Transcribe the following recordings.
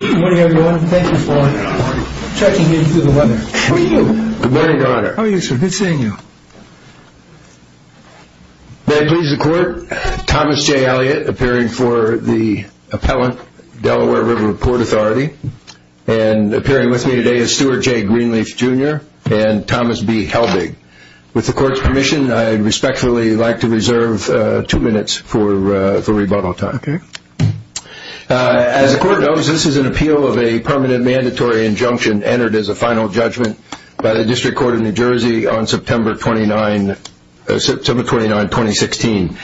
Good morning everyone, thank you for checking in through the weather. How are you? Good morning, Your Honor. How are you, sir? Good seeing you. May I please the Court? Thomas J. Elliott, appearing for the appellant, Delaware River Port Authority. And appearing with me today is Stuart J. Greenleaf, Jr. and Thomas B. Helbig. With the Court's permission, I'd respectfully like to reserve two minutes for rebuttal time. Okay. As the Court knows, this is an appeal of a permanent mandatory injunction entered as a final judgment by the District Court of New Jersey on September 29, 2016.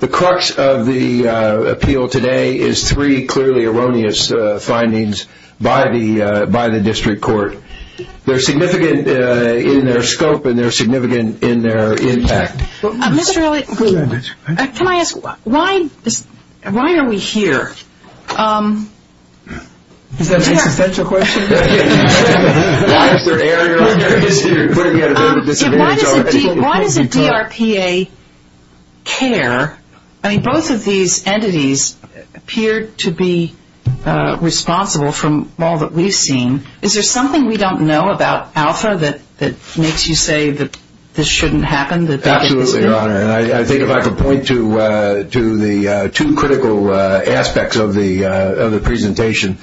The crux of the appeal today is three clearly erroneous findings by the District Court. They're significant in their scope and they're significant in their impact. Mr. Elliott, can I ask why are we here? Is that an existential question? Why does a DRPA care? I mean, both of these entities appear to be responsible from all that we've seen. Is there something we don't know about Alpha that makes you say that this shouldn't happen? Absolutely, Your Honor. I think if I could point to the two critical aspects of the presentation.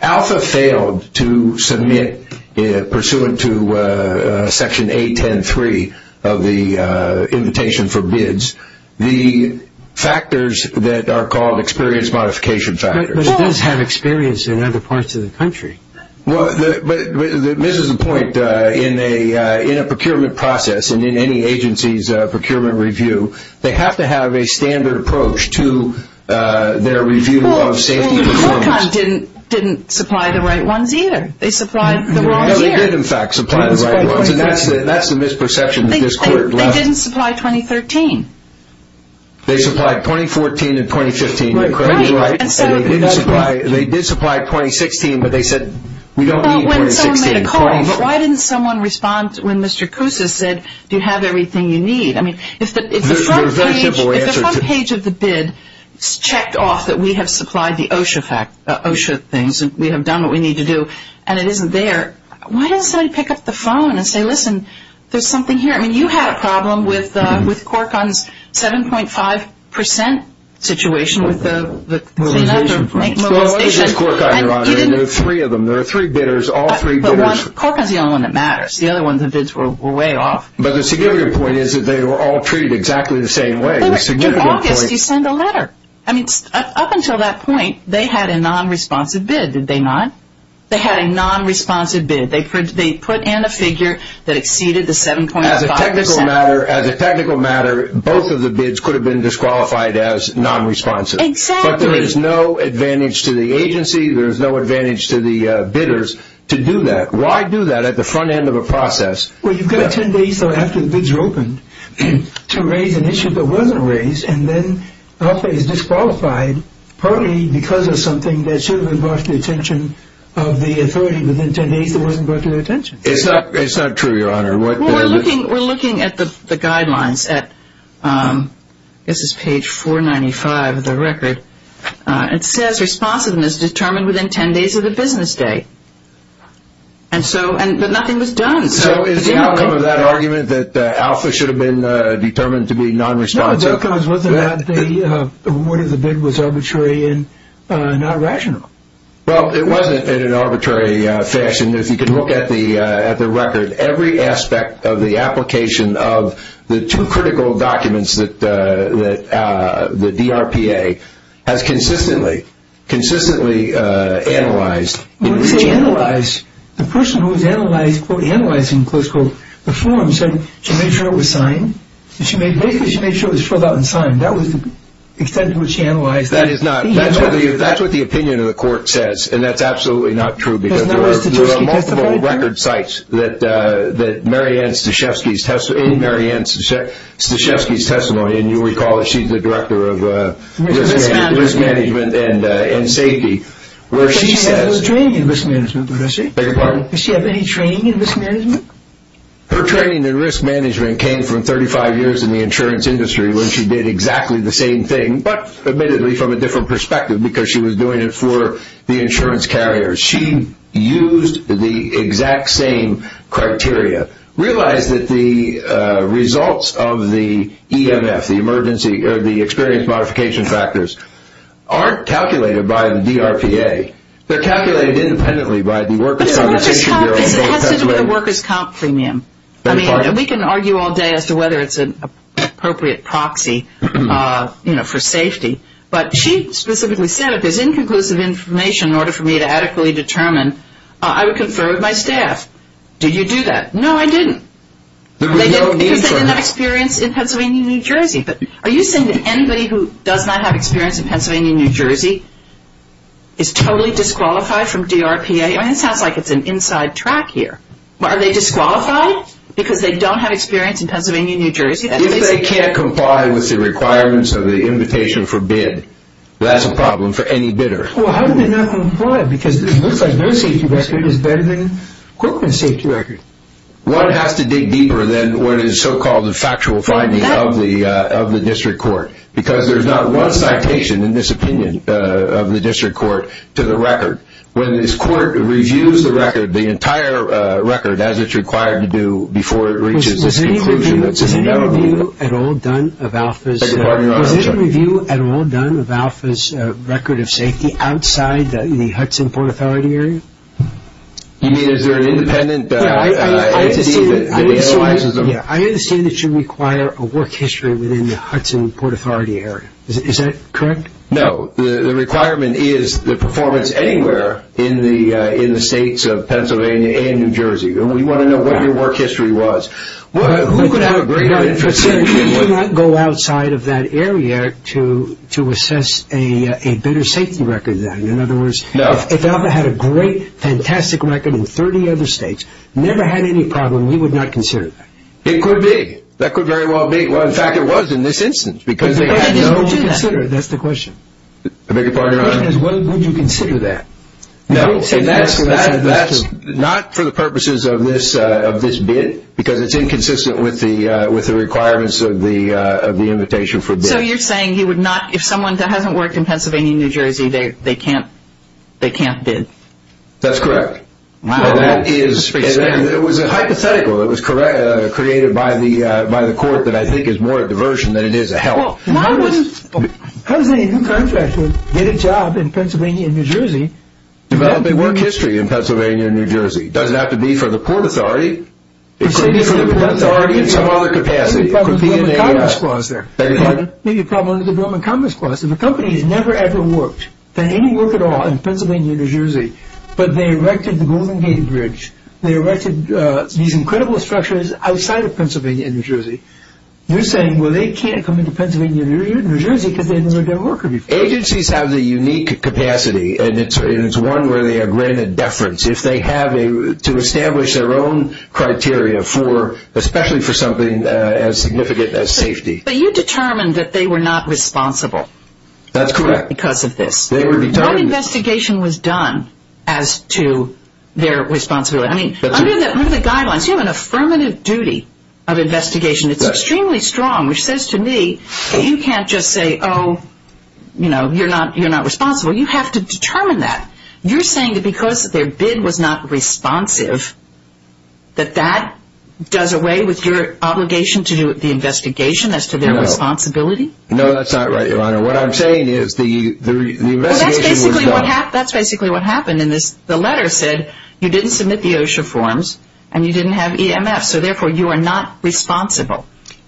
Alpha failed to submit, pursuant to Section 810.3 of the invitation for bids, the factors that are called experience modification factors. But it does have experience in other parts of the country. Well, this is the point. In a procurement process and in any agency's procurement review, they have to have a standard approach to their review of safety and performance. Well, Qualcomm didn't supply the right ones either. They supplied the wrong year. No, they did, in fact, supply the right ones. That's the misperception that this Court left. They didn't supply 2013. They supplied 2014 and 2015. Right. They did supply 2016, but they said, we don't need 2016. But why didn't someone respond when Mr. Kousis said, do you have everything you need? I mean, if the front page of the bid checked off that we have supplied the OSHA things and we have done what we need to do and it isn't there, why doesn't somebody pick up the phone and say, listen, there's something here. I mean, you had a problem with Qualcomm's 7.5% situation with the clean-up to make mobilization. Well, it was just Qualcomm, Your Honor, and there were three of them. There were three bidders, all three bidders. But Qualcomm is the only one that matters. The other ones, the bids were way off. But the security point is that they were all treated exactly the same way. The security point. In August, he sent a letter. I mean, up until that point, they had a non-responsive bid, did they not? They had a non-responsive bid. They put in a figure that exceeded the 7.5%. As a technical matter, as a technical matter, both of the bids could have been disqualified as non-responsive. Exactly. But there is no advantage to the agency. There is no advantage to the bidders to do that. Why do that at the front end of a process? Well, you've got 10 days, though, after the bids are open to raise an issue that wasn't raised and then Alpha is disqualified partly because of something that should have been brought to the attention of the authority within 10 days that wasn't brought to their attention. It's not true, Your Honor. We're looking at the guidelines. This is page 495 of the record. It says responsiveness determined within 10 days of the business day. But nothing was done. So is the outcome of that argument that Alpha should have been determined to be non-responsive? The outcome was that the award of the bid was arbitrary and not rational. Well, it wasn't in an arbitrary fashion. If you can look at the record, every aspect of the application of the two critical documents that the DRPA has consistently analyzed. When you say analyzed, the person who was analyzed, quote, analyzing, quote, unquote, the form said she made sure it was signed. Basically, she made sure it was filled out and signed. That was the extent to which she analyzed. That is not. That's what the opinion of the court says, and that's absolutely not true. Because there are multiple record sites in Mary Ann Stashevsky's testimony, and you'll recall that she's the director of risk management and safety, where she says. But she has no training in risk management, does she? Beg your pardon? Does she have any training in risk management? Her training in risk management came from 35 years in the insurance industry when she did exactly the same thing, but admittedly from a different perspective because she was doing it for the insurance carriers. She used the exact same criteria. Realize that the results of the EMF, the experience modification factors, aren't calculated by the DRPA. They're calculated independently by the workers' compensation bureau. It has to do with the workers' comp premium. We can argue all day as to whether it's an appropriate proxy for safety, but she specifically said if there's inconclusive information in order for me to adequately determine, I would confer with my staff. Did you do that? No, I didn't. Because they didn't have experience in Pennsylvania and New Jersey. Are you saying that anybody who does not have experience in Pennsylvania and New Jersey is totally disqualified from DRPA? That sounds like it's an inside track here. Are they disqualified because they don't have experience in Pennsylvania and New Jersey? If they can't comply with the requirements of the invitation for bid, that's a problem for any bidder. Well, how do they not comply because it looks like their safety record is better than Corcoran's safety record. One has to dig deeper than what is so-called the factual finding of the district court because there's not one citation in this opinion of the district court to the record. When this court reviews the record, the entire record, as it's required to do, before it reaches this conclusion that's in the memo. Was any review at all done of Alpha's record of safety outside the Hudson Port Authority area? You mean is there an independent entity that analyzes them? I understand that you require a work history within the Hudson Port Authority area. Is that correct? No. The requirement is the performance anywhere in the states of Pennsylvania and New Jersey. We want to know what your work history was. Who could have a greater interest in it? You cannot go outside of that area to assess a bidder's safety record then. In other words, if Alpha had a great, fantastic record in 30 other states, never had any problem, you would not consider that? It could be. That could very well be. In fact, it was in this instance because they had no... The question is what would you consider? That's the question. The bigger part of your honor? The question is what would you consider that? That's not for the purposes of this bid because it's inconsistent with the requirements of the invitation for bid. So you're saying if someone hasn't worked in Pennsylvania and New Jersey, they can't bid? That's correct. It was a hypothetical. It was created by the court that I think is more a diversion than it is a help. How does a new contractor get a job in Pennsylvania and New Jersey? Developing work history in Pennsylvania and New Jersey. Does it have to be for the Port Authority? It could be for the Port Authority in some other capacity. There could be a problem with the Government Commerce Clause there. Maybe a problem with the Government Commerce Clause. If a company has never ever worked, done any work at all in Pennsylvania and New Jersey, but they erected the Golden Gate Bridge, they erected these incredible structures outside of Pennsylvania and New Jersey, you're saying, well, they can't come into Pennsylvania and New Jersey because they've never done work there before. Agencies have the unique capacity and it's one where they are granted deference. If they have a... to establish their own criteria for, especially for something as significant as safety. But you determined that they were not responsible. That's correct. Because of this. No investigation was done as to their responsibility. I mean, under the guidelines, you have an affirmative duty of investigation. It's extremely strong, which says to me that you can't just say, oh, you know, you're not responsible. You have to determine that. You're saying that because their bid was not responsive, that that does away with your obligation to do the investigation as to their responsibility? No, that's not right, Your Honor. What I'm saying is the investigation was done. That's basically what happened in this. The letter said you didn't submit the OSHA forms and you didn't have EMF, so therefore you are not responsible.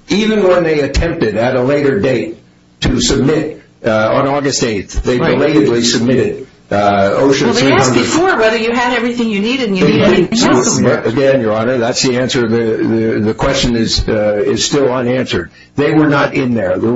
Even when they attempted at a later date to submit on August 8th, they belatedly submitted OSHA 300. Well, they asked before whether you had everything you needed and you didn't have anything else on there. Again, Your Honor, that's the answer. The question is still unanswered. They were not in there. The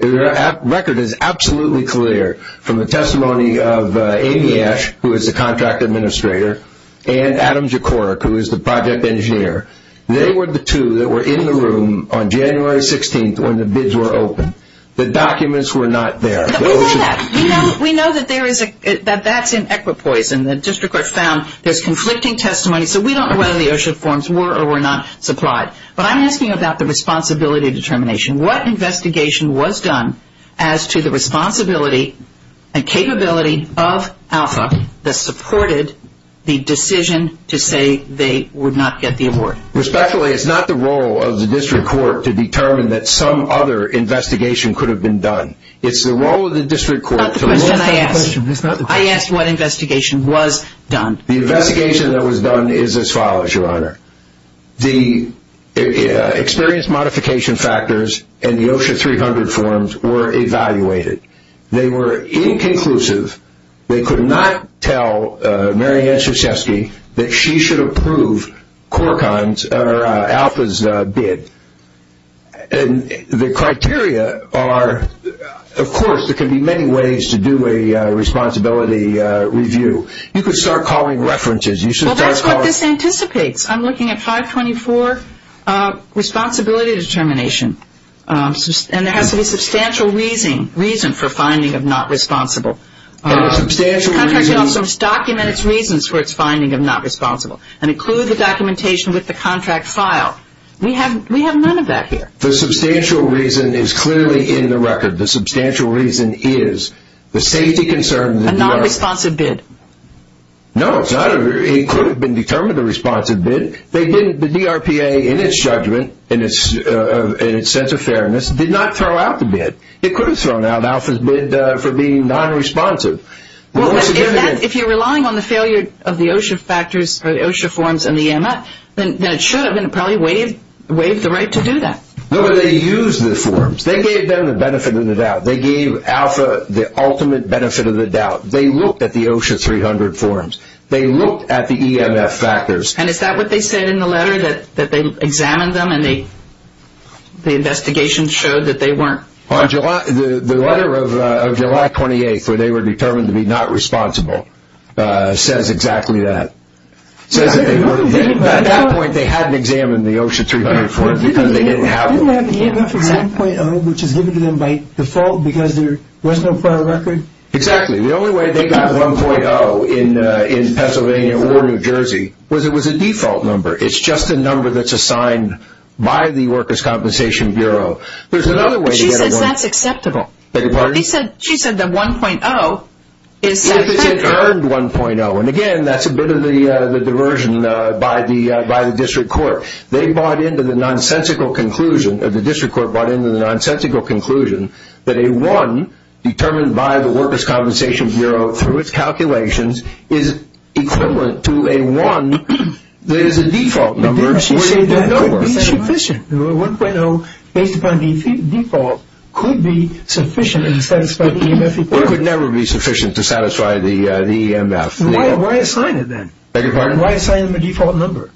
record is absolutely clear from the testimony of Amy Ash, who is the contract administrator, and Adam Jokorek, who is the project engineer. They were the two that were in the room on January 16th when the bids were opened. The documents were not there. We know that. We know that that's in equipoise, and the district court found there's conflicting testimony, so we don't know whether the OSHA forms were or were not supplied. But I'm asking about the responsibility determination. What investigation was done as to the responsibility and capability of ALPHA that supported the decision to say they would not get the award? Respectfully, it's not the role of the district court to determine that some other investigation could have been done. It's the role of the district court to look at the question. That's not the question I asked. I asked what investigation was done. The investigation that was done is as follows, Your Honor. The experience modification factors and the OSHA 300 forms were evaluated. They were inconclusive. They could not tell Mary Ann Krzyzewski that she should approve ALPHA's bid. And the criteria are, of course, there can be many ways to do a responsibility review. You could start calling references. Well, that's what this anticipates. I'm looking at 524 responsibility determination. And there has to be substantial reason for finding of not responsible. The contract should also document its reasons for its finding of not responsible and include the documentation with the contract file. We have none of that here. The substantial reason is clearly in the record. The substantial reason is the safety concern. A nonresponsive bid. No, it's not. It could have been determined a responsive bid. The DRPA, in its judgment, in its sense of fairness, did not throw out the bid. It could have thrown out ALPHA's bid for being nonresponsive. If you're relying on the failure of the OSHA factors or the OSHA forms and the EMA, then it should have been probably waived the right to do that. No, but they used the forms. They gave them the benefit of the doubt. They gave ALPHA the ultimate benefit of the doubt. They looked at the OSHA 300 forms. They looked at the EMF factors. And is that what they said in the letter, that they examined them and the investigation showed that they weren't? The letter of July 28th, where they were determined to be not responsible, says exactly that. At that point, they hadn't examined the OSHA 300 forms because they didn't have them. Didn't they have EMF 1.0, which is given to them by default because there was no prior record? Exactly. The only way they got 1.0 in Pennsylvania or New Jersey was it was a default number. It's just a number that's assigned by the Workers' Compensation Bureau. There's another way to get a 1.0. But she says that's acceptable. Beg your pardon? She said the 1.0 is acceptable. If it's an earned 1.0. And again, that's a bit of the diversion by the district court. They bought into the nonsensical conclusion, or the district court bought into the nonsensical conclusion, that a 1 determined by the Workers' Compensation Bureau through its calculations is equivalent to a 1 that is a default number. She said that could be sufficient. The 1.0 based upon the default could be sufficient in satisfying the EMF requirement. It could never be sufficient to satisfy the EMF. Why assign it then? Beg your pardon? Why assign them a default number?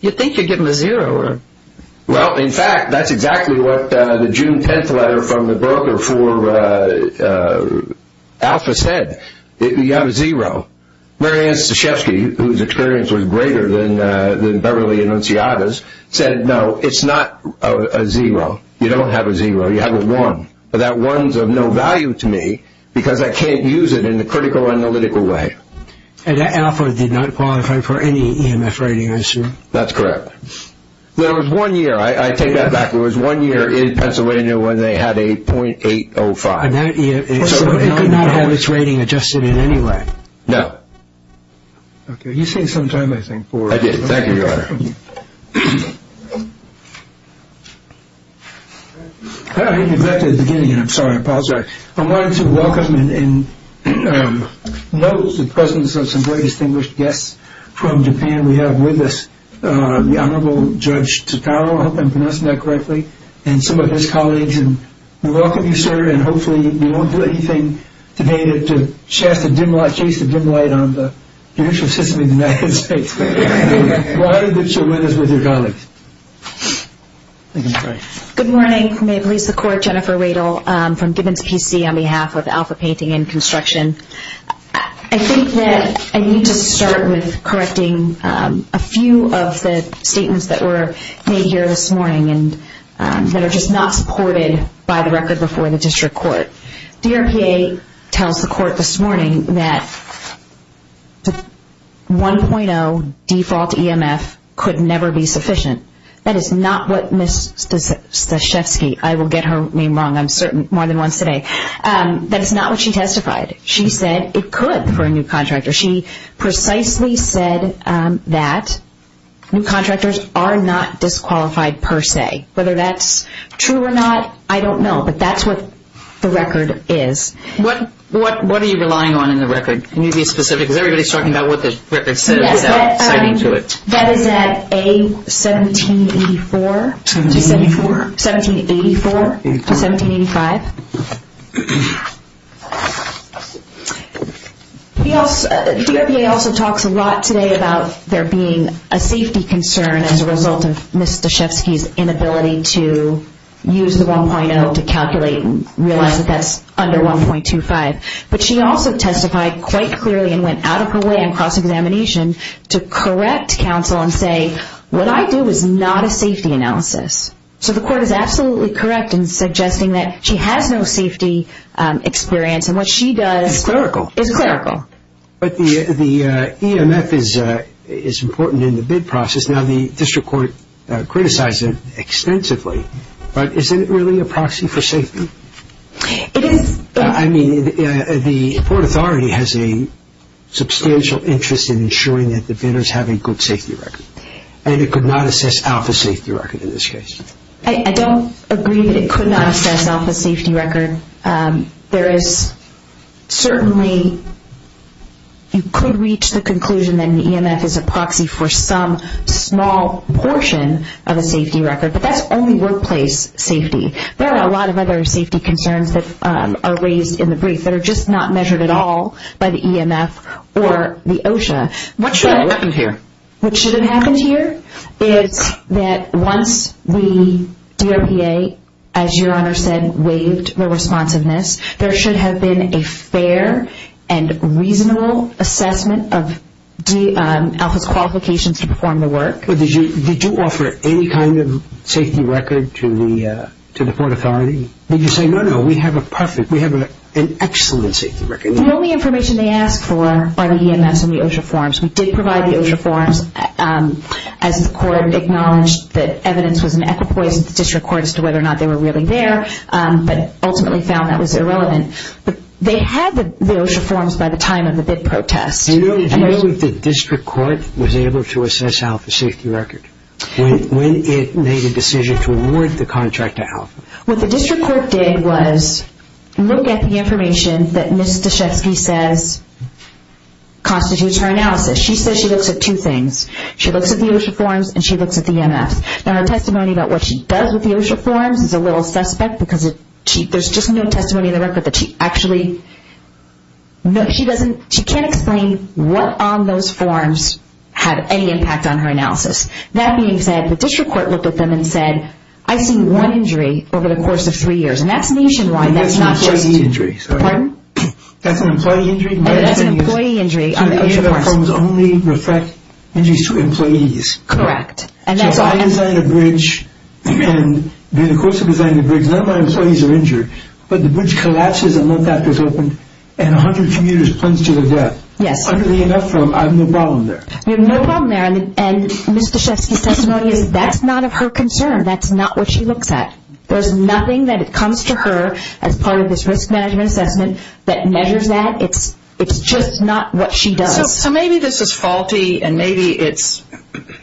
You think you're getting a zero. Well, in fact, that's exactly what the June 10th letter from the broker for Alpha said. You have a zero. Mary Ann Stashevsky, whose experience was greater than Beverly Annunziata's, said no, it's not a zero. You don't have a zero. You have a 1. But that 1 is of no value to me because I can't use it in a critical analytical way. And Alpha did not qualify for any EMF rating, I assume. That's correct. There was one year. I take that back. There was one year in Pennsylvania when they had a .805. So it could not have its rating adjusted in any way? No. You saved some time, I think, for it. I did. Thank you, Your Honor. I think we're back to the beginning, and I'm sorry, I apologize. I wanted to welcome and note the presence of some very distinguished guests from Japan. We have with us the Honorable Judge Takao. I hope I'm pronouncing that correctly. And some of his colleagues. And we welcome you, sir. And hopefully we won't do anything today to chase the dim light on the judicial system in the United States. But I'm glad that you're with us with your colleagues. Thank you. Good morning. May it please the Court. Jennifer Radel from Gibbons PC on behalf of Alpha Painting and Construction. I think that I need to start with correcting a few of the statements that were made here this morning and that are just not supported by the record before the District Court. DRPA tells the Court this morning that the 1.0 default EMF could never be sufficient. That is not what Ms. Staszewski, I will get her name wrong, I'm certain, more than once today. That is not what she testified. She said it could for a new contractor. She precisely said that new contractors are not disqualified per se. Whether that's true or not, I don't know. But that's what the record is. What are you relying on in the record? Can you be specific? Because everybody's talking about what the record says without citing to it. That is at A1784 to 1784 to 1785. DRPA also talks a lot today about there being a safety concern as a result of Ms. Staszewski's inability to use the 1.0 to calculate and realize that that's under 1.25. But she also testified quite clearly and went out of her way in cross-examination to correct counsel and say, what I do is not a safety analysis. So the Court is absolutely correct in suggesting that she has no safety experience. And what she does is clerical. But the EMF is important in the bid process. Now the District Court criticized it extensively. But isn't it really a proxy for safety? It is. I mean, the Port Authority has a substantial interest in ensuring that the bidders have a good safety record. And it could not assess Alpha's safety record in this case. I don't agree that it could not assess Alpha's safety record. There is certainly, you could reach the conclusion that an EMF is a proxy for some small portion of a safety record. But that's only workplace safety. There are a lot of other safety concerns that are raised in the brief that are just not measured at all by the EMF or the OSHA. What should have happened here? What should have happened here is that once the DOPA, as Your Honor said, waived the responsiveness, there should have been a fair and reasonable assessment of Alpha's qualifications to perform the work. But did you offer any kind of safety record to the Port Authority? Did you say, no, no, we have a perfect, we have an excellent safety record? The only information they asked for are the EMFs and the OSHA forms. We did provide the OSHA forms as the court acknowledged that evidence was an equipoise of the District Court as to whether or not they were really there, but ultimately found that was irrelevant. But they had the OSHA forms by the time of the bid protest. Do you know if the District Court was able to assess Alpha's safety record? When it made a decision to award the contract to Alpha? What the District Court did was look at the information that Ms. Daschetzky says constitutes her analysis. She says she looks at two things. She looks at the OSHA forms and she looks at the EMFs. Now her testimony about what she does with the OSHA forms is a little suspect because there's just no testimony in the record that she actually, she can't explain what on those forms had any impact on her analysis. That being said, the District Court looked at them and said, I've seen one injury over the course of three years. That's an employee injury. Pardon? That's an employee injury? That's an employee injury on the OSHA forms. So the OSHA forms only reflect injuries to employees. Correct. So I designed a bridge and during the course of designing the bridge, none of my employees are injured. But the bridge collapses and the duct is open and 100 commuters plunge to their death. Yes. Under the EMF form, I have no problem there. You have no problem there. And Ms. Daschetzky's testimony is that's not of her concern. That's not what she looks at. There's nothing that comes to her as part of this risk management assessment that measures that. It's just not what she does. So maybe this is faulty and maybe it's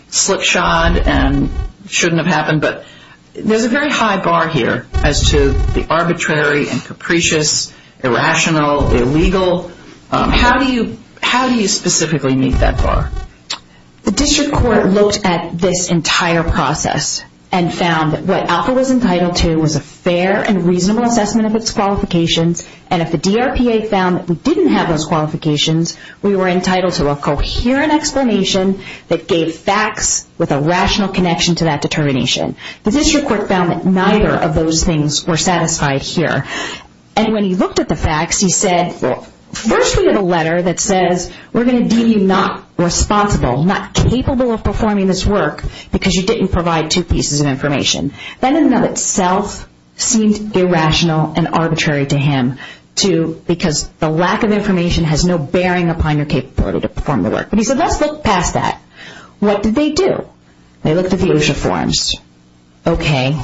slipshod and shouldn't have happened, but there's a very high bar here as to the arbitrary and capricious, irrational, illegal. How do you specifically meet that bar? The district court looked at this entire process and found that what Alpha was entitled to was a fair and reasonable assessment of its qualifications, and if the DRPA found that we didn't have those qualifications, we were entitled to a coherent explanation that gave facts with a rational connection to that determination. The district court found that neither of those things were satisfied here. And when he looked at the facts, he said, first we have a letter that says we're going to deem you not responsible, not capable of performing this work because you didn't provide two pieces of information. That in and of itself seemed irrational and arbitrary to him because the lack of information has no bearing upon your capability to perform the work. He said, let's look past that. What did they do? They looked at the OSHA forms. Okay.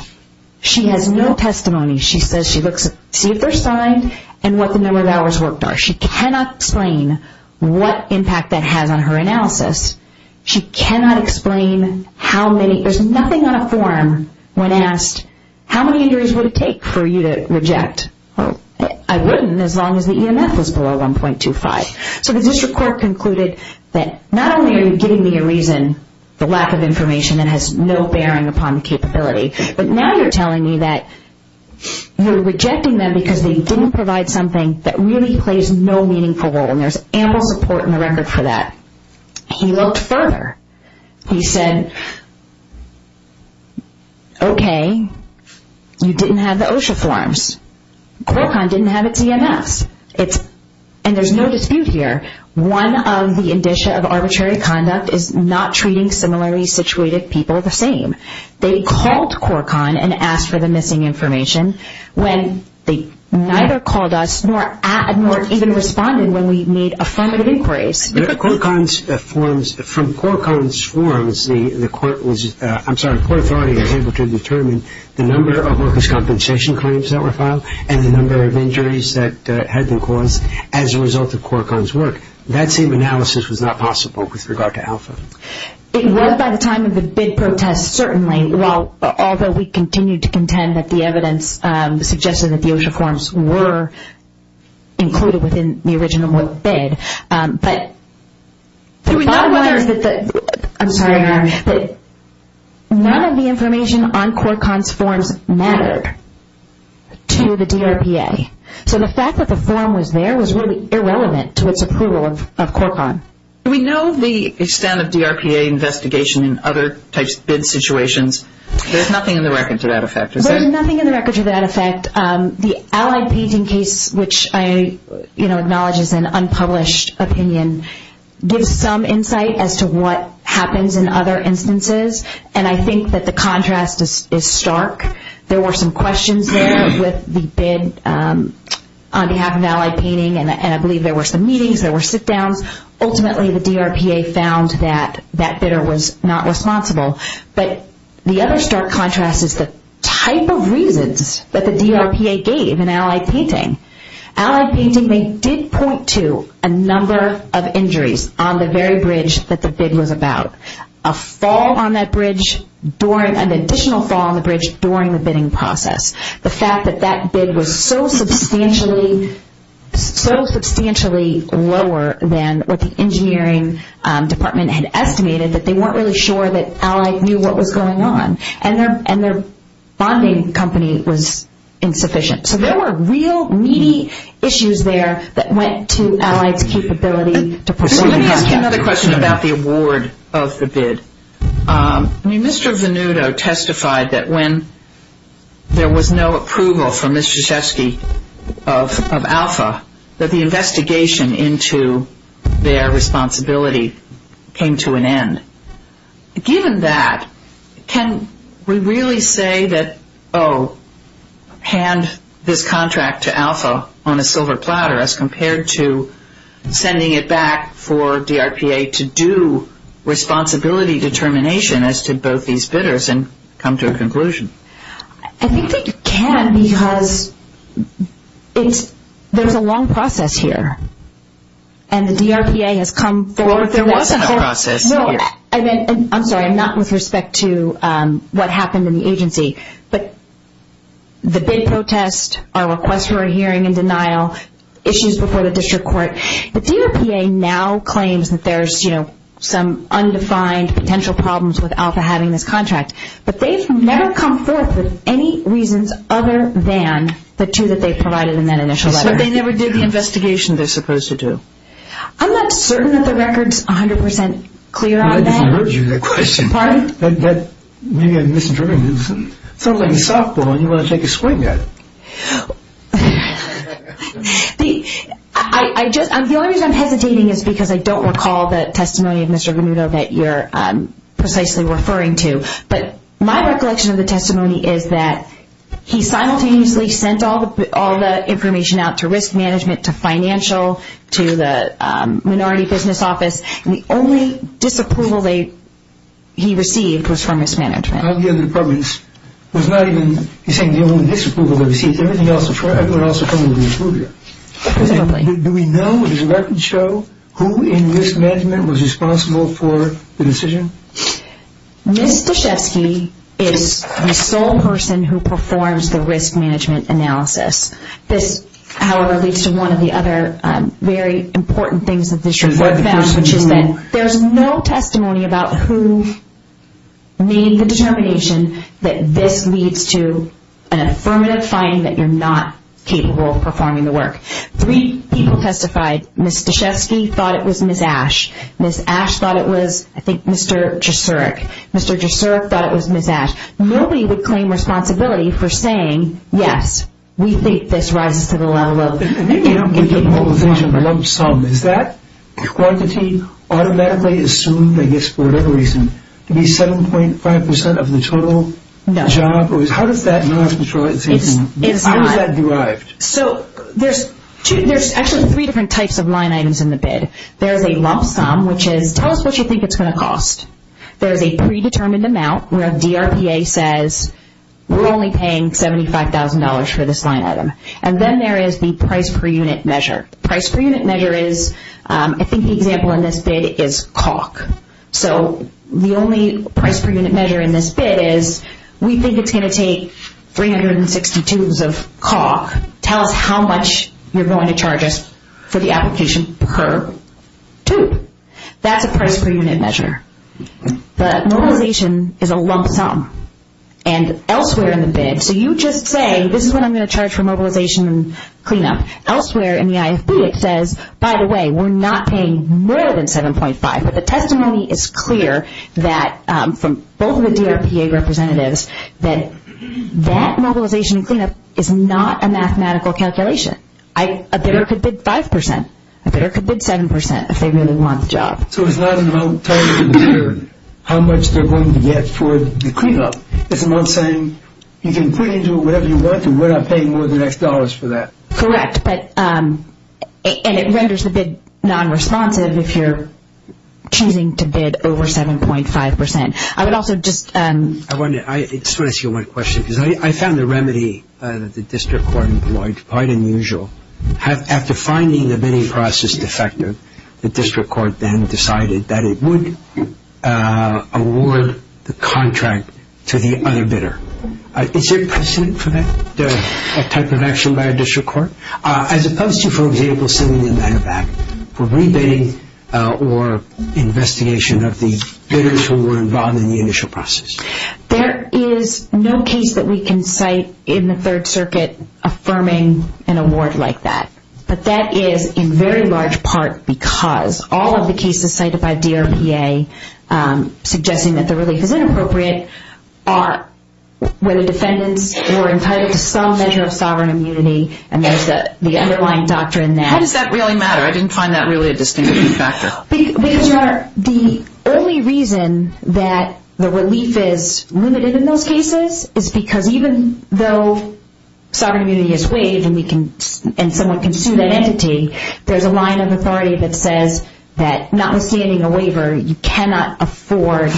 She has no testimony. She says she looks to see if they're signed and what the number of hours worked are. She cannot explain what impact that has on her analysis. She cannot explain how many, there's nothing on a form when asked, how many injuries would it take for you to reject? I wouldn't as long as the EMF was below 1.25. So the district court concluded that not only are you giving me a reason, the lack of information that has no bearing upon the capability, but now you're telling me that you're rejecting them because they didn't provide something that really plays no meaningful role and there's ample support in the record for that. He looked further. He said, okay, you didn't have the OSHA forms. Qualcomm didn't have its EMFs. And there's no dispute here. One of the indicia of arbitrary conduct is not treating similarly situated people the same. They called Qualcomm and asked for the missing information when they neither called us nor even responded when we made affirmative inquiries. From Qualcomm's forms, the court was, I'm sorry, the court authority was able to determine the number of workers' compensation claims that were filed and the number of injuries that had been caused as a result of Qualcomm's work. That same analysis was not possible with regard to Alpha. It was by the time of the bid protest, certainly, although we continued to contend that the evidence suggested that the OSHA forms were included within the original bid. But the bottom line is that none of the information on Qualcomm's forms mattered to the DRPA. So the fact that the form was there was really irrelevant to its approval of Qualcomm. Do we know the extent of DRPA investigation in other types of bid situations? There's nothing in the record to that effect, is there? There's nothing in the record to that effect. The Allied Painting case, which I acknowledge is an unpublished opinion, gives some insight as to what happens in other instances. And I think that the contrast is stark. There were some questions there with the bid on behalf of Allied Painting, and I believe there were some meetings, there were sit-downs. Ultimately, the DRPA found that that bidder was not responsible. But the other stark contrast is the type of reasons that the DRPA gave in Allied Painting. Allied Painting, they did point to a number of injuries on the very bridge that the bid was about. A fall on that bridge, an additional fall on the bridge during the bidding process. The fact that that bid was so substantially lower than what the engineering department had estimated that they weren't really sure that Allied knew what was going on. And their bonding company was insufficient. So there were real needy issues there that went to Allied's capability to pursue the project. Let me ask you another question about the award of the bid. I mean, Mr. Venuto testified that when there was no approval from Mr. Szewski of Alpha, that the investigation into their responsibility came to an end. Given that, can we really say that, oh, hand this contract to Alpha on a silver platter as compared to sending it back for DRPA to do responsibility determination as to both these bidders and come to a conclusion? I think that you can because there's a long process here. And the DRPA has come forward. There was a process. I'm sorry, not with respect to what happened in the agency. But the bid protest, our request for a hearing in denial, issues before the district court. The DRPA now claims that there's some undefined potential problems with Alpha having this contract. But they've never come forth with any reasons other than the two that they provided in that initial letter. So they never did the investigation they're supposed to do. I'm not certain that the record's 100% clear on that. I didn't urge you that question. Pardon? Maybe I misinterpreted it. It sounds like a softball and you want to take a swing at it. The only reason I'm hesitating is because I don't recall the testimony of Mr. Venuto that you're precisely referring to. But my recollection of the testimony is that he simultaneously sent all the information out to risk management, to financial, to the minority business office. The only disapproval he received was from risk management. Of the other departments. He's saying the only disapproval he received. Everyone else approved it. Do we know, does the record show, who in risk management was responsible for the decision? Ms. Stachewski is the sole person who performs the risk management analysis. This, however, leads to one of the other very important things that this report found, which is that there's no testimony about who made the determination that this leads to an affirmative finding that you're not capable of performing the work. Three people testified. Ms. Stachewski thought it was Ms. Ash. Ms. Ash thought it was, I think, Mr. Jasuric. Mr. Jasuric thought it was Ms. Ash. Nobody would claim responsibility for saying, yes, we think this rises to the level of... And then you don't get the polarization of lump sum. Is that quantity automatically assumed, I guess, for whatever reason, to be 7.5% of the total job? No. How does that derive? So there's actually three different types of line items in the bid. There's a lump sum, which is tell us what you think it's going to cost. There's a predetermined amount where DRPA says we're only paying $75,000 for this line item. And then there is the price per unit measure. The price per unit measure is, I think the example in this bid is caulk. So the only price per unit measure in this bid is we think it's going to take 360 tubes of caulk. Tell us how much you're going to charge us for the application per tube. That's a price per unit measure. But mobilization is a lump sum. And elsewhere in the bid, so you just say, this is what I'm going to charge for mobilization and cleanup. Elsewhere in the IFP, it says, by the way, we're not paying more than 7.5. But the testimony is clear that from both of the DRPA representatives that that mobilization and cleanup is not a mathematical calculation. A bidder could bid 5%. A bidder could bid 7% if they really want the job. So it's not about telling the bidder how much they're going to get for the cleanup. It's about saying you can put into it whatever you want to. We're not paying more than X dollars for that. Correct. And it renders the bid nonresponsive if you're choosing to bid over 7.5%. I would also just – I just want to ask you one question because I found the remedy that the district court employed quite unusual. After finding the bidding process defective, the district court then decided that it would award the contract to the other bidder. Is there precedent for that type of action by a district court, as opposed to, for example, sending the matter back for rebidding or investigation of the bidders who were involved in the initial process? There is no case that we can cite in the Third Circuit affirming an award like that. But that is in very large part because all of the cases cited by DRPA suggesting that the relief is inappropriate are where the defendants were entitled to some measure of sovereign immunity, and there's the underlying doctrine that – How does that really matter? I didn't find that really a distinctive factor. Because, Your Honor, the only reason that the relief is limited in those cases is because even though sovereign immunity is waived and someone can sue that entity, there's a line of authority that says that notwithstanding a waiver, you cannot afford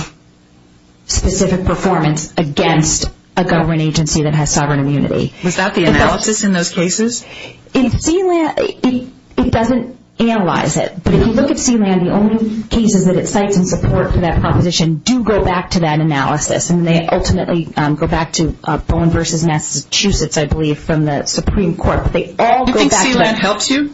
specific performance against a government agency that has sovereign immunity. Was that the analysis in those cases? It doesn't analyze it. But if you look at C-LAN, the only cases that it cites in support for that proposition do go back to that analysis, and they ultimately go back to Bowen v. Massachusetts, I believe, from the Supreme Court. Do you think C-LAN helps you?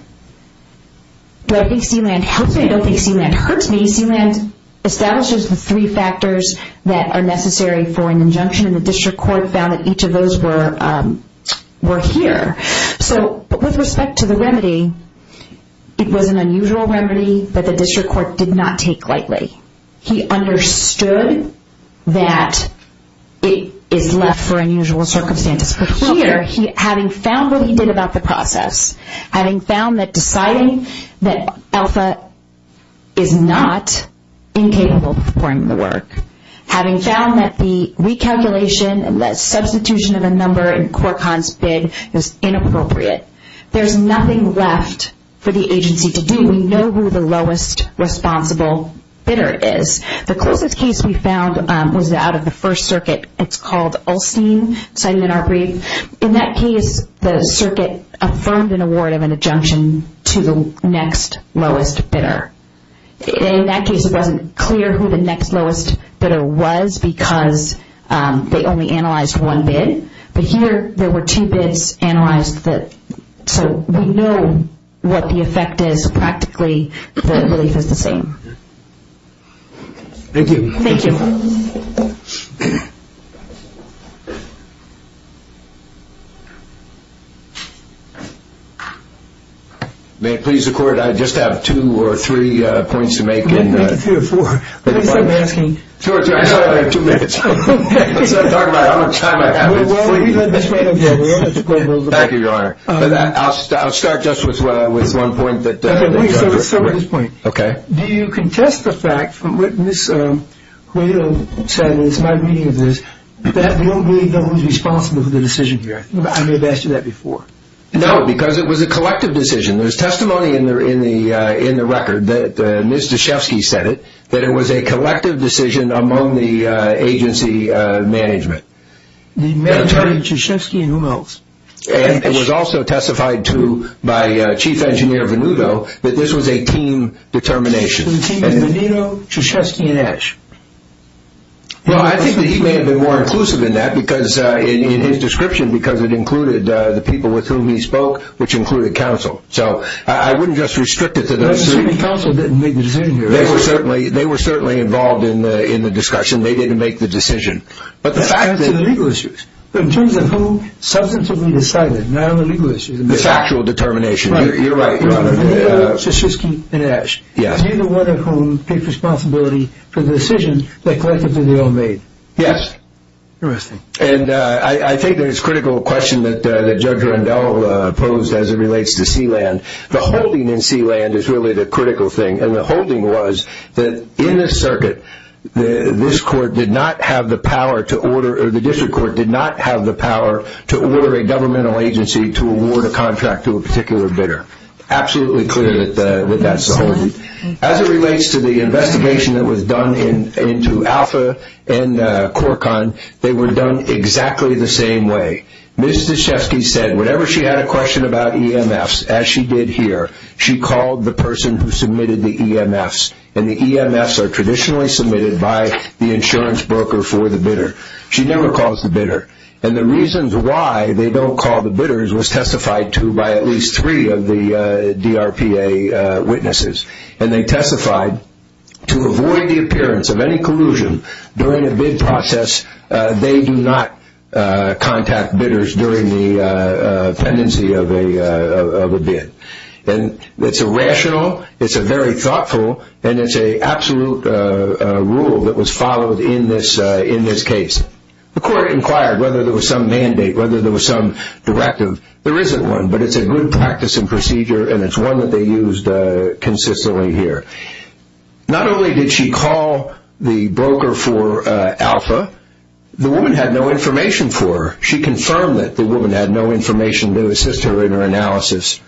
Do I think C-LAN helps me? I don't think C-LAN hurts me. C-LAN establishes the three factors that are necessary for an injunction, and the district court found that each of those were here. So with respect to the remedy, it was an unusual remedy that the district court did not take lightly. He understood that it is left for unusual circumstances. But here, having found what he did about the process, having found that deciding that ALFA is not incapable of performing the work, having found that the recalculation and the substitution of a number in CorConn's bid is inappropriate, there's nothing left for the agency to do. We know who the lowest responsible bidder is. The closest case we found was out of the First Circuit. It's called Ulstein, cited in our brief. In that case, the circuit affirmed an award of an injunction to the next lowest bidder. In that case, it wasn't clear who the next lowest bidder was because they only analyzed one bid. But here, there were two bids analyzed, so we know what the effect is. Practically, the relief is the same. Thank you. Thank you. May it please the court, I just have two or three points to make. Make it three or four. Two or three, I don't have two minutes. Let's not talk about how much time I have. We'll explain those. Thank you, Your Honor. I'll start just with one point. Let's start with this point. Okay. Do you contest the fact from what Ms. Guido said in my reading of this, that we don't really know who's responsible for the decision here? I may have asked you that before. No, because it was a collective decision. There's testimony in the record that Ms. Deshefsky said it, that it was a collective decision among the agency management. The manager, Deshefsky, and whom else? And it was also testified to by Chief Engineer Venuto that this was a team determination. So the team is Venuto, Deshefsky, and Deshe? Well, I think that he may have been more inclusive in that, in his description, because it included the people with whom he spoke, which included counsel. So I wouldn't just restrict it to those three. But counsel didn't make the decision here, right? They were certainly involved in the discussion. They didn't make the decision. That's in the legal issues. But in terms of who substantively decided, not in the legal issues. The factual determination. You're right. Venuto, Deshefsky, and Deshe? Yes. Neither one of whom took responsibility for the decision that collectively they all made? Yes. Interesting. And I think there's a critical question that Judge Randall posed as it relates to Sealand. The holding in Sealand is really the critical thing, and the holding was that in the circuit, this court did not have the power to order, or the district court did not have the power to order a governmental agency to award a contract to a particular bidder. Absolutely clear that that's the holding. As it relates to the investigation that was done into Alpha and Corcon, they were done exactly the same way. Ms. Deshefsky said whenever she had a question about EMFs, as she did here, she called the person who submitted the EMFs. And the EMFs are traditionally submitted by the insurance broker for the bidder. She never calls the bidder. And the reasons why they don't call the bidders was testified to by at least three of the DRPA witnesses. And they testified to avoid the appearance of any collusion during a bid process. They do not contact bidders during the pendency of a bid. And it's a rational, it's a very thoughtful, and it's an absolute rule that was followed in this case. The court inquired whether there was some mandate, whether there was some directive. There isn't one, but it's a good practice and procedure, and it's one that they used consistently here. Not only did she call the broker for Alpha, the woman had no information for her. She confirmed that the woman had no information to assist her in her analysis.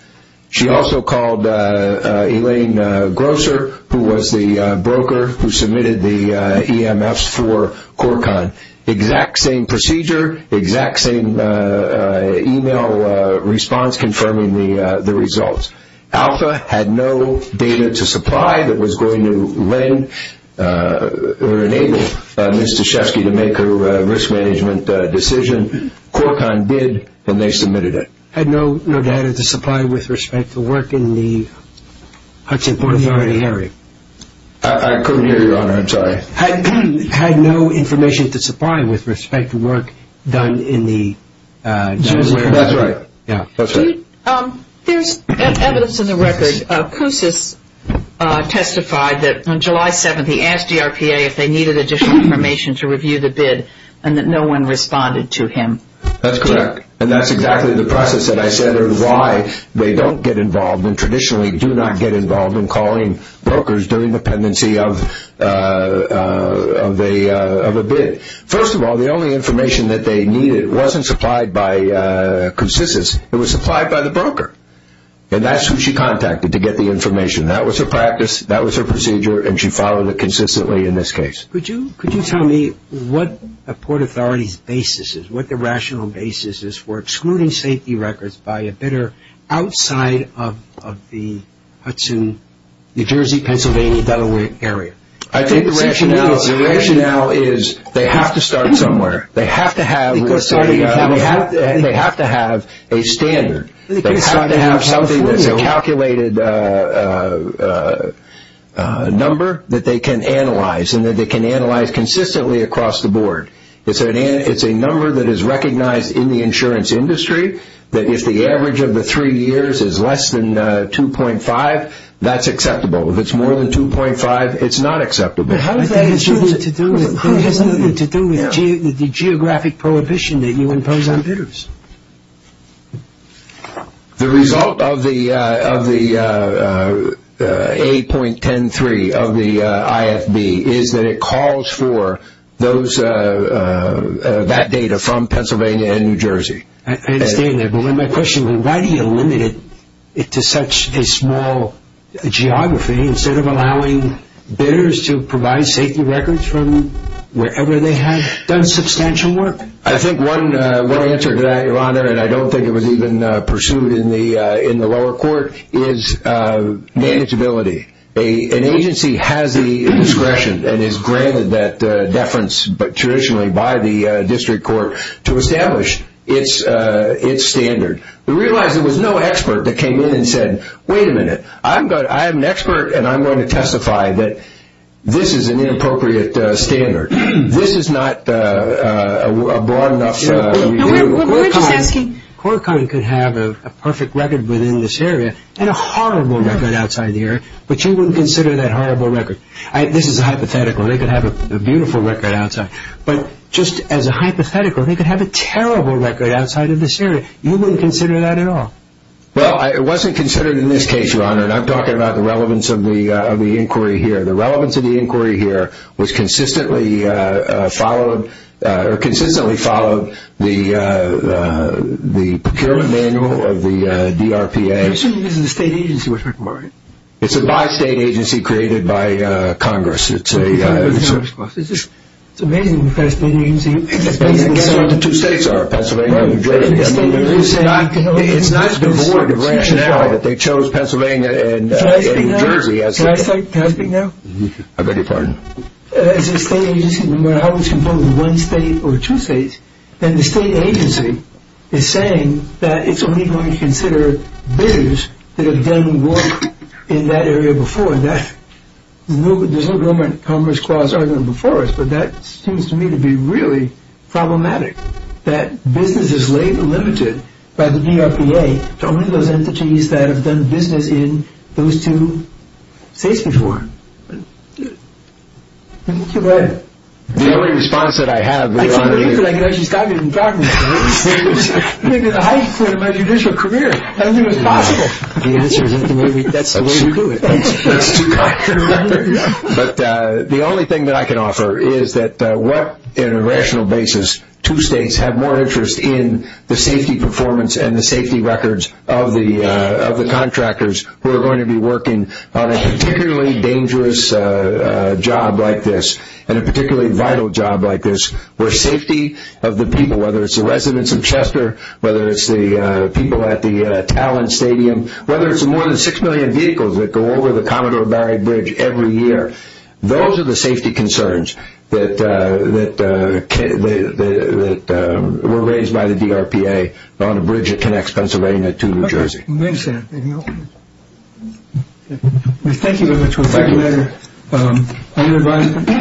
She also called Elaine Grosser, who was the broker who submitted the EMFs for Corcon. Exact same procedure, exact same email response confirming the results. Alpha had no data to supply that was going to lend or enable Ms. Toshefsky to make her risk management decision. Corcon bid when they submitted it. Had no data to supply with respect to work in the Hudson Port Authority area. I couldn't hear you, Your Honor. I'm sorry. Had no information to supply with respect to work done in the. That's right. There's evidence in the record. Koussis testified that on July 7th, he asked DRPA if they needed additional information to review the bid, and that no one responded to him. That's correct, and that's exactly the process that I said or why they don't get involved and traditionally do not get involved in calling brokers during the pendency of a bid. First of all, the only information that they needed wasn't supplied by Koussis. It was supplied by the broker, and that's who she contacted to get the information. That was her practice. That was her procedure, and she followed it consistently in this case. Could you tell me what a port authority's basis is, what the rational basis is for excluding safety records by a bidder outside of the Hudson, New Jersey, Pennsylvania, Delaware area? I think the rationale is they have to start somewhere. They have to have a standard. They have to have something that's a calculated number that they can analyze and that they can analyze consistently across the board. It's a number that is recognized in the insurance industry, that if the average of the three years is less than 2.5, that's acceptable. If it's more than 2.5, it's not acceptable. How does that have anything to do with the geographic prohibition that you impose on bidders? The result of the 8.13 of the IFB is that it calls for that data from Pennsylvania and New Jersey. I understand that, but why do you limit it to such a small geography instead of allowing bidders to provide safety records from wherever they have done substantial work? I think one answer to that, Your Honor, and I don't think it was even pursued in the lower court, is manageability. An agency has the discretion and is granted that deference traditionally by the district court to establish. It's standard. We realize there was no expert that came in and said, wait a minute, I'm an expert and I'm going to testify that this is an inappropriate standard. This is not a broad enough review. We're just asking. Quarantine could have a perfect record within this area and a horrible record outside the area, but you wouldn't consider that horrible record. This is a hypothetical. They could have a beautiful record outside, but just as a hypothetical, they could have a terrible record outside of this area. You wouldn't consider that at all. Well, it wasn't considered in this case, Your Honor, and I'm talking about the relevance of the inquiry here. The relevance of the inquiry here was consistently followed, or consistently followed the procurement manual of the DRPA. You're saying this is a state agency, which we're talking about, right? It's a bi-state agency created by Congress. It's amazing, the Pennsylvania agency. That's what the two states are, Pennsylvania and New Jersey. It's not devoid of rationality that they chose Pennsylvania and New Jersey. Can I speak now? I beg your pardon. As a state agency, no matter how it's composed of one state or two states, then the state agency is saying that it's only going to consider bidders that have done work in that area before. There's no government commerce clause before us, but that seems to me to be really problematic, that business is limited by the DRPA to only those entities that have done business in those two states before. The only response that I have, Your Honor. I can't believe that I can actually stop you from talking about this. You made it the highest point of my judicial career. I don't think it was possible. That's the way we do it. The only thing that I can offer is that what, in a rational basis, two states have more interest in the safety performance and the safety records of the contractors who are going to be working on a particularly dangerous job like this and a particularly vital job like this where safety of the people, whether it's the residents of Chester, whether it's the people at the Talon Stadium, whether it's the more than six million vehicles that go over the Commodore Barrie Bridge every year. Those are the safety concerns that were raised by the DRPA on a bridge that connects Pennsylvania to New Jersey. Thank you very much. Thank you, Your Honor.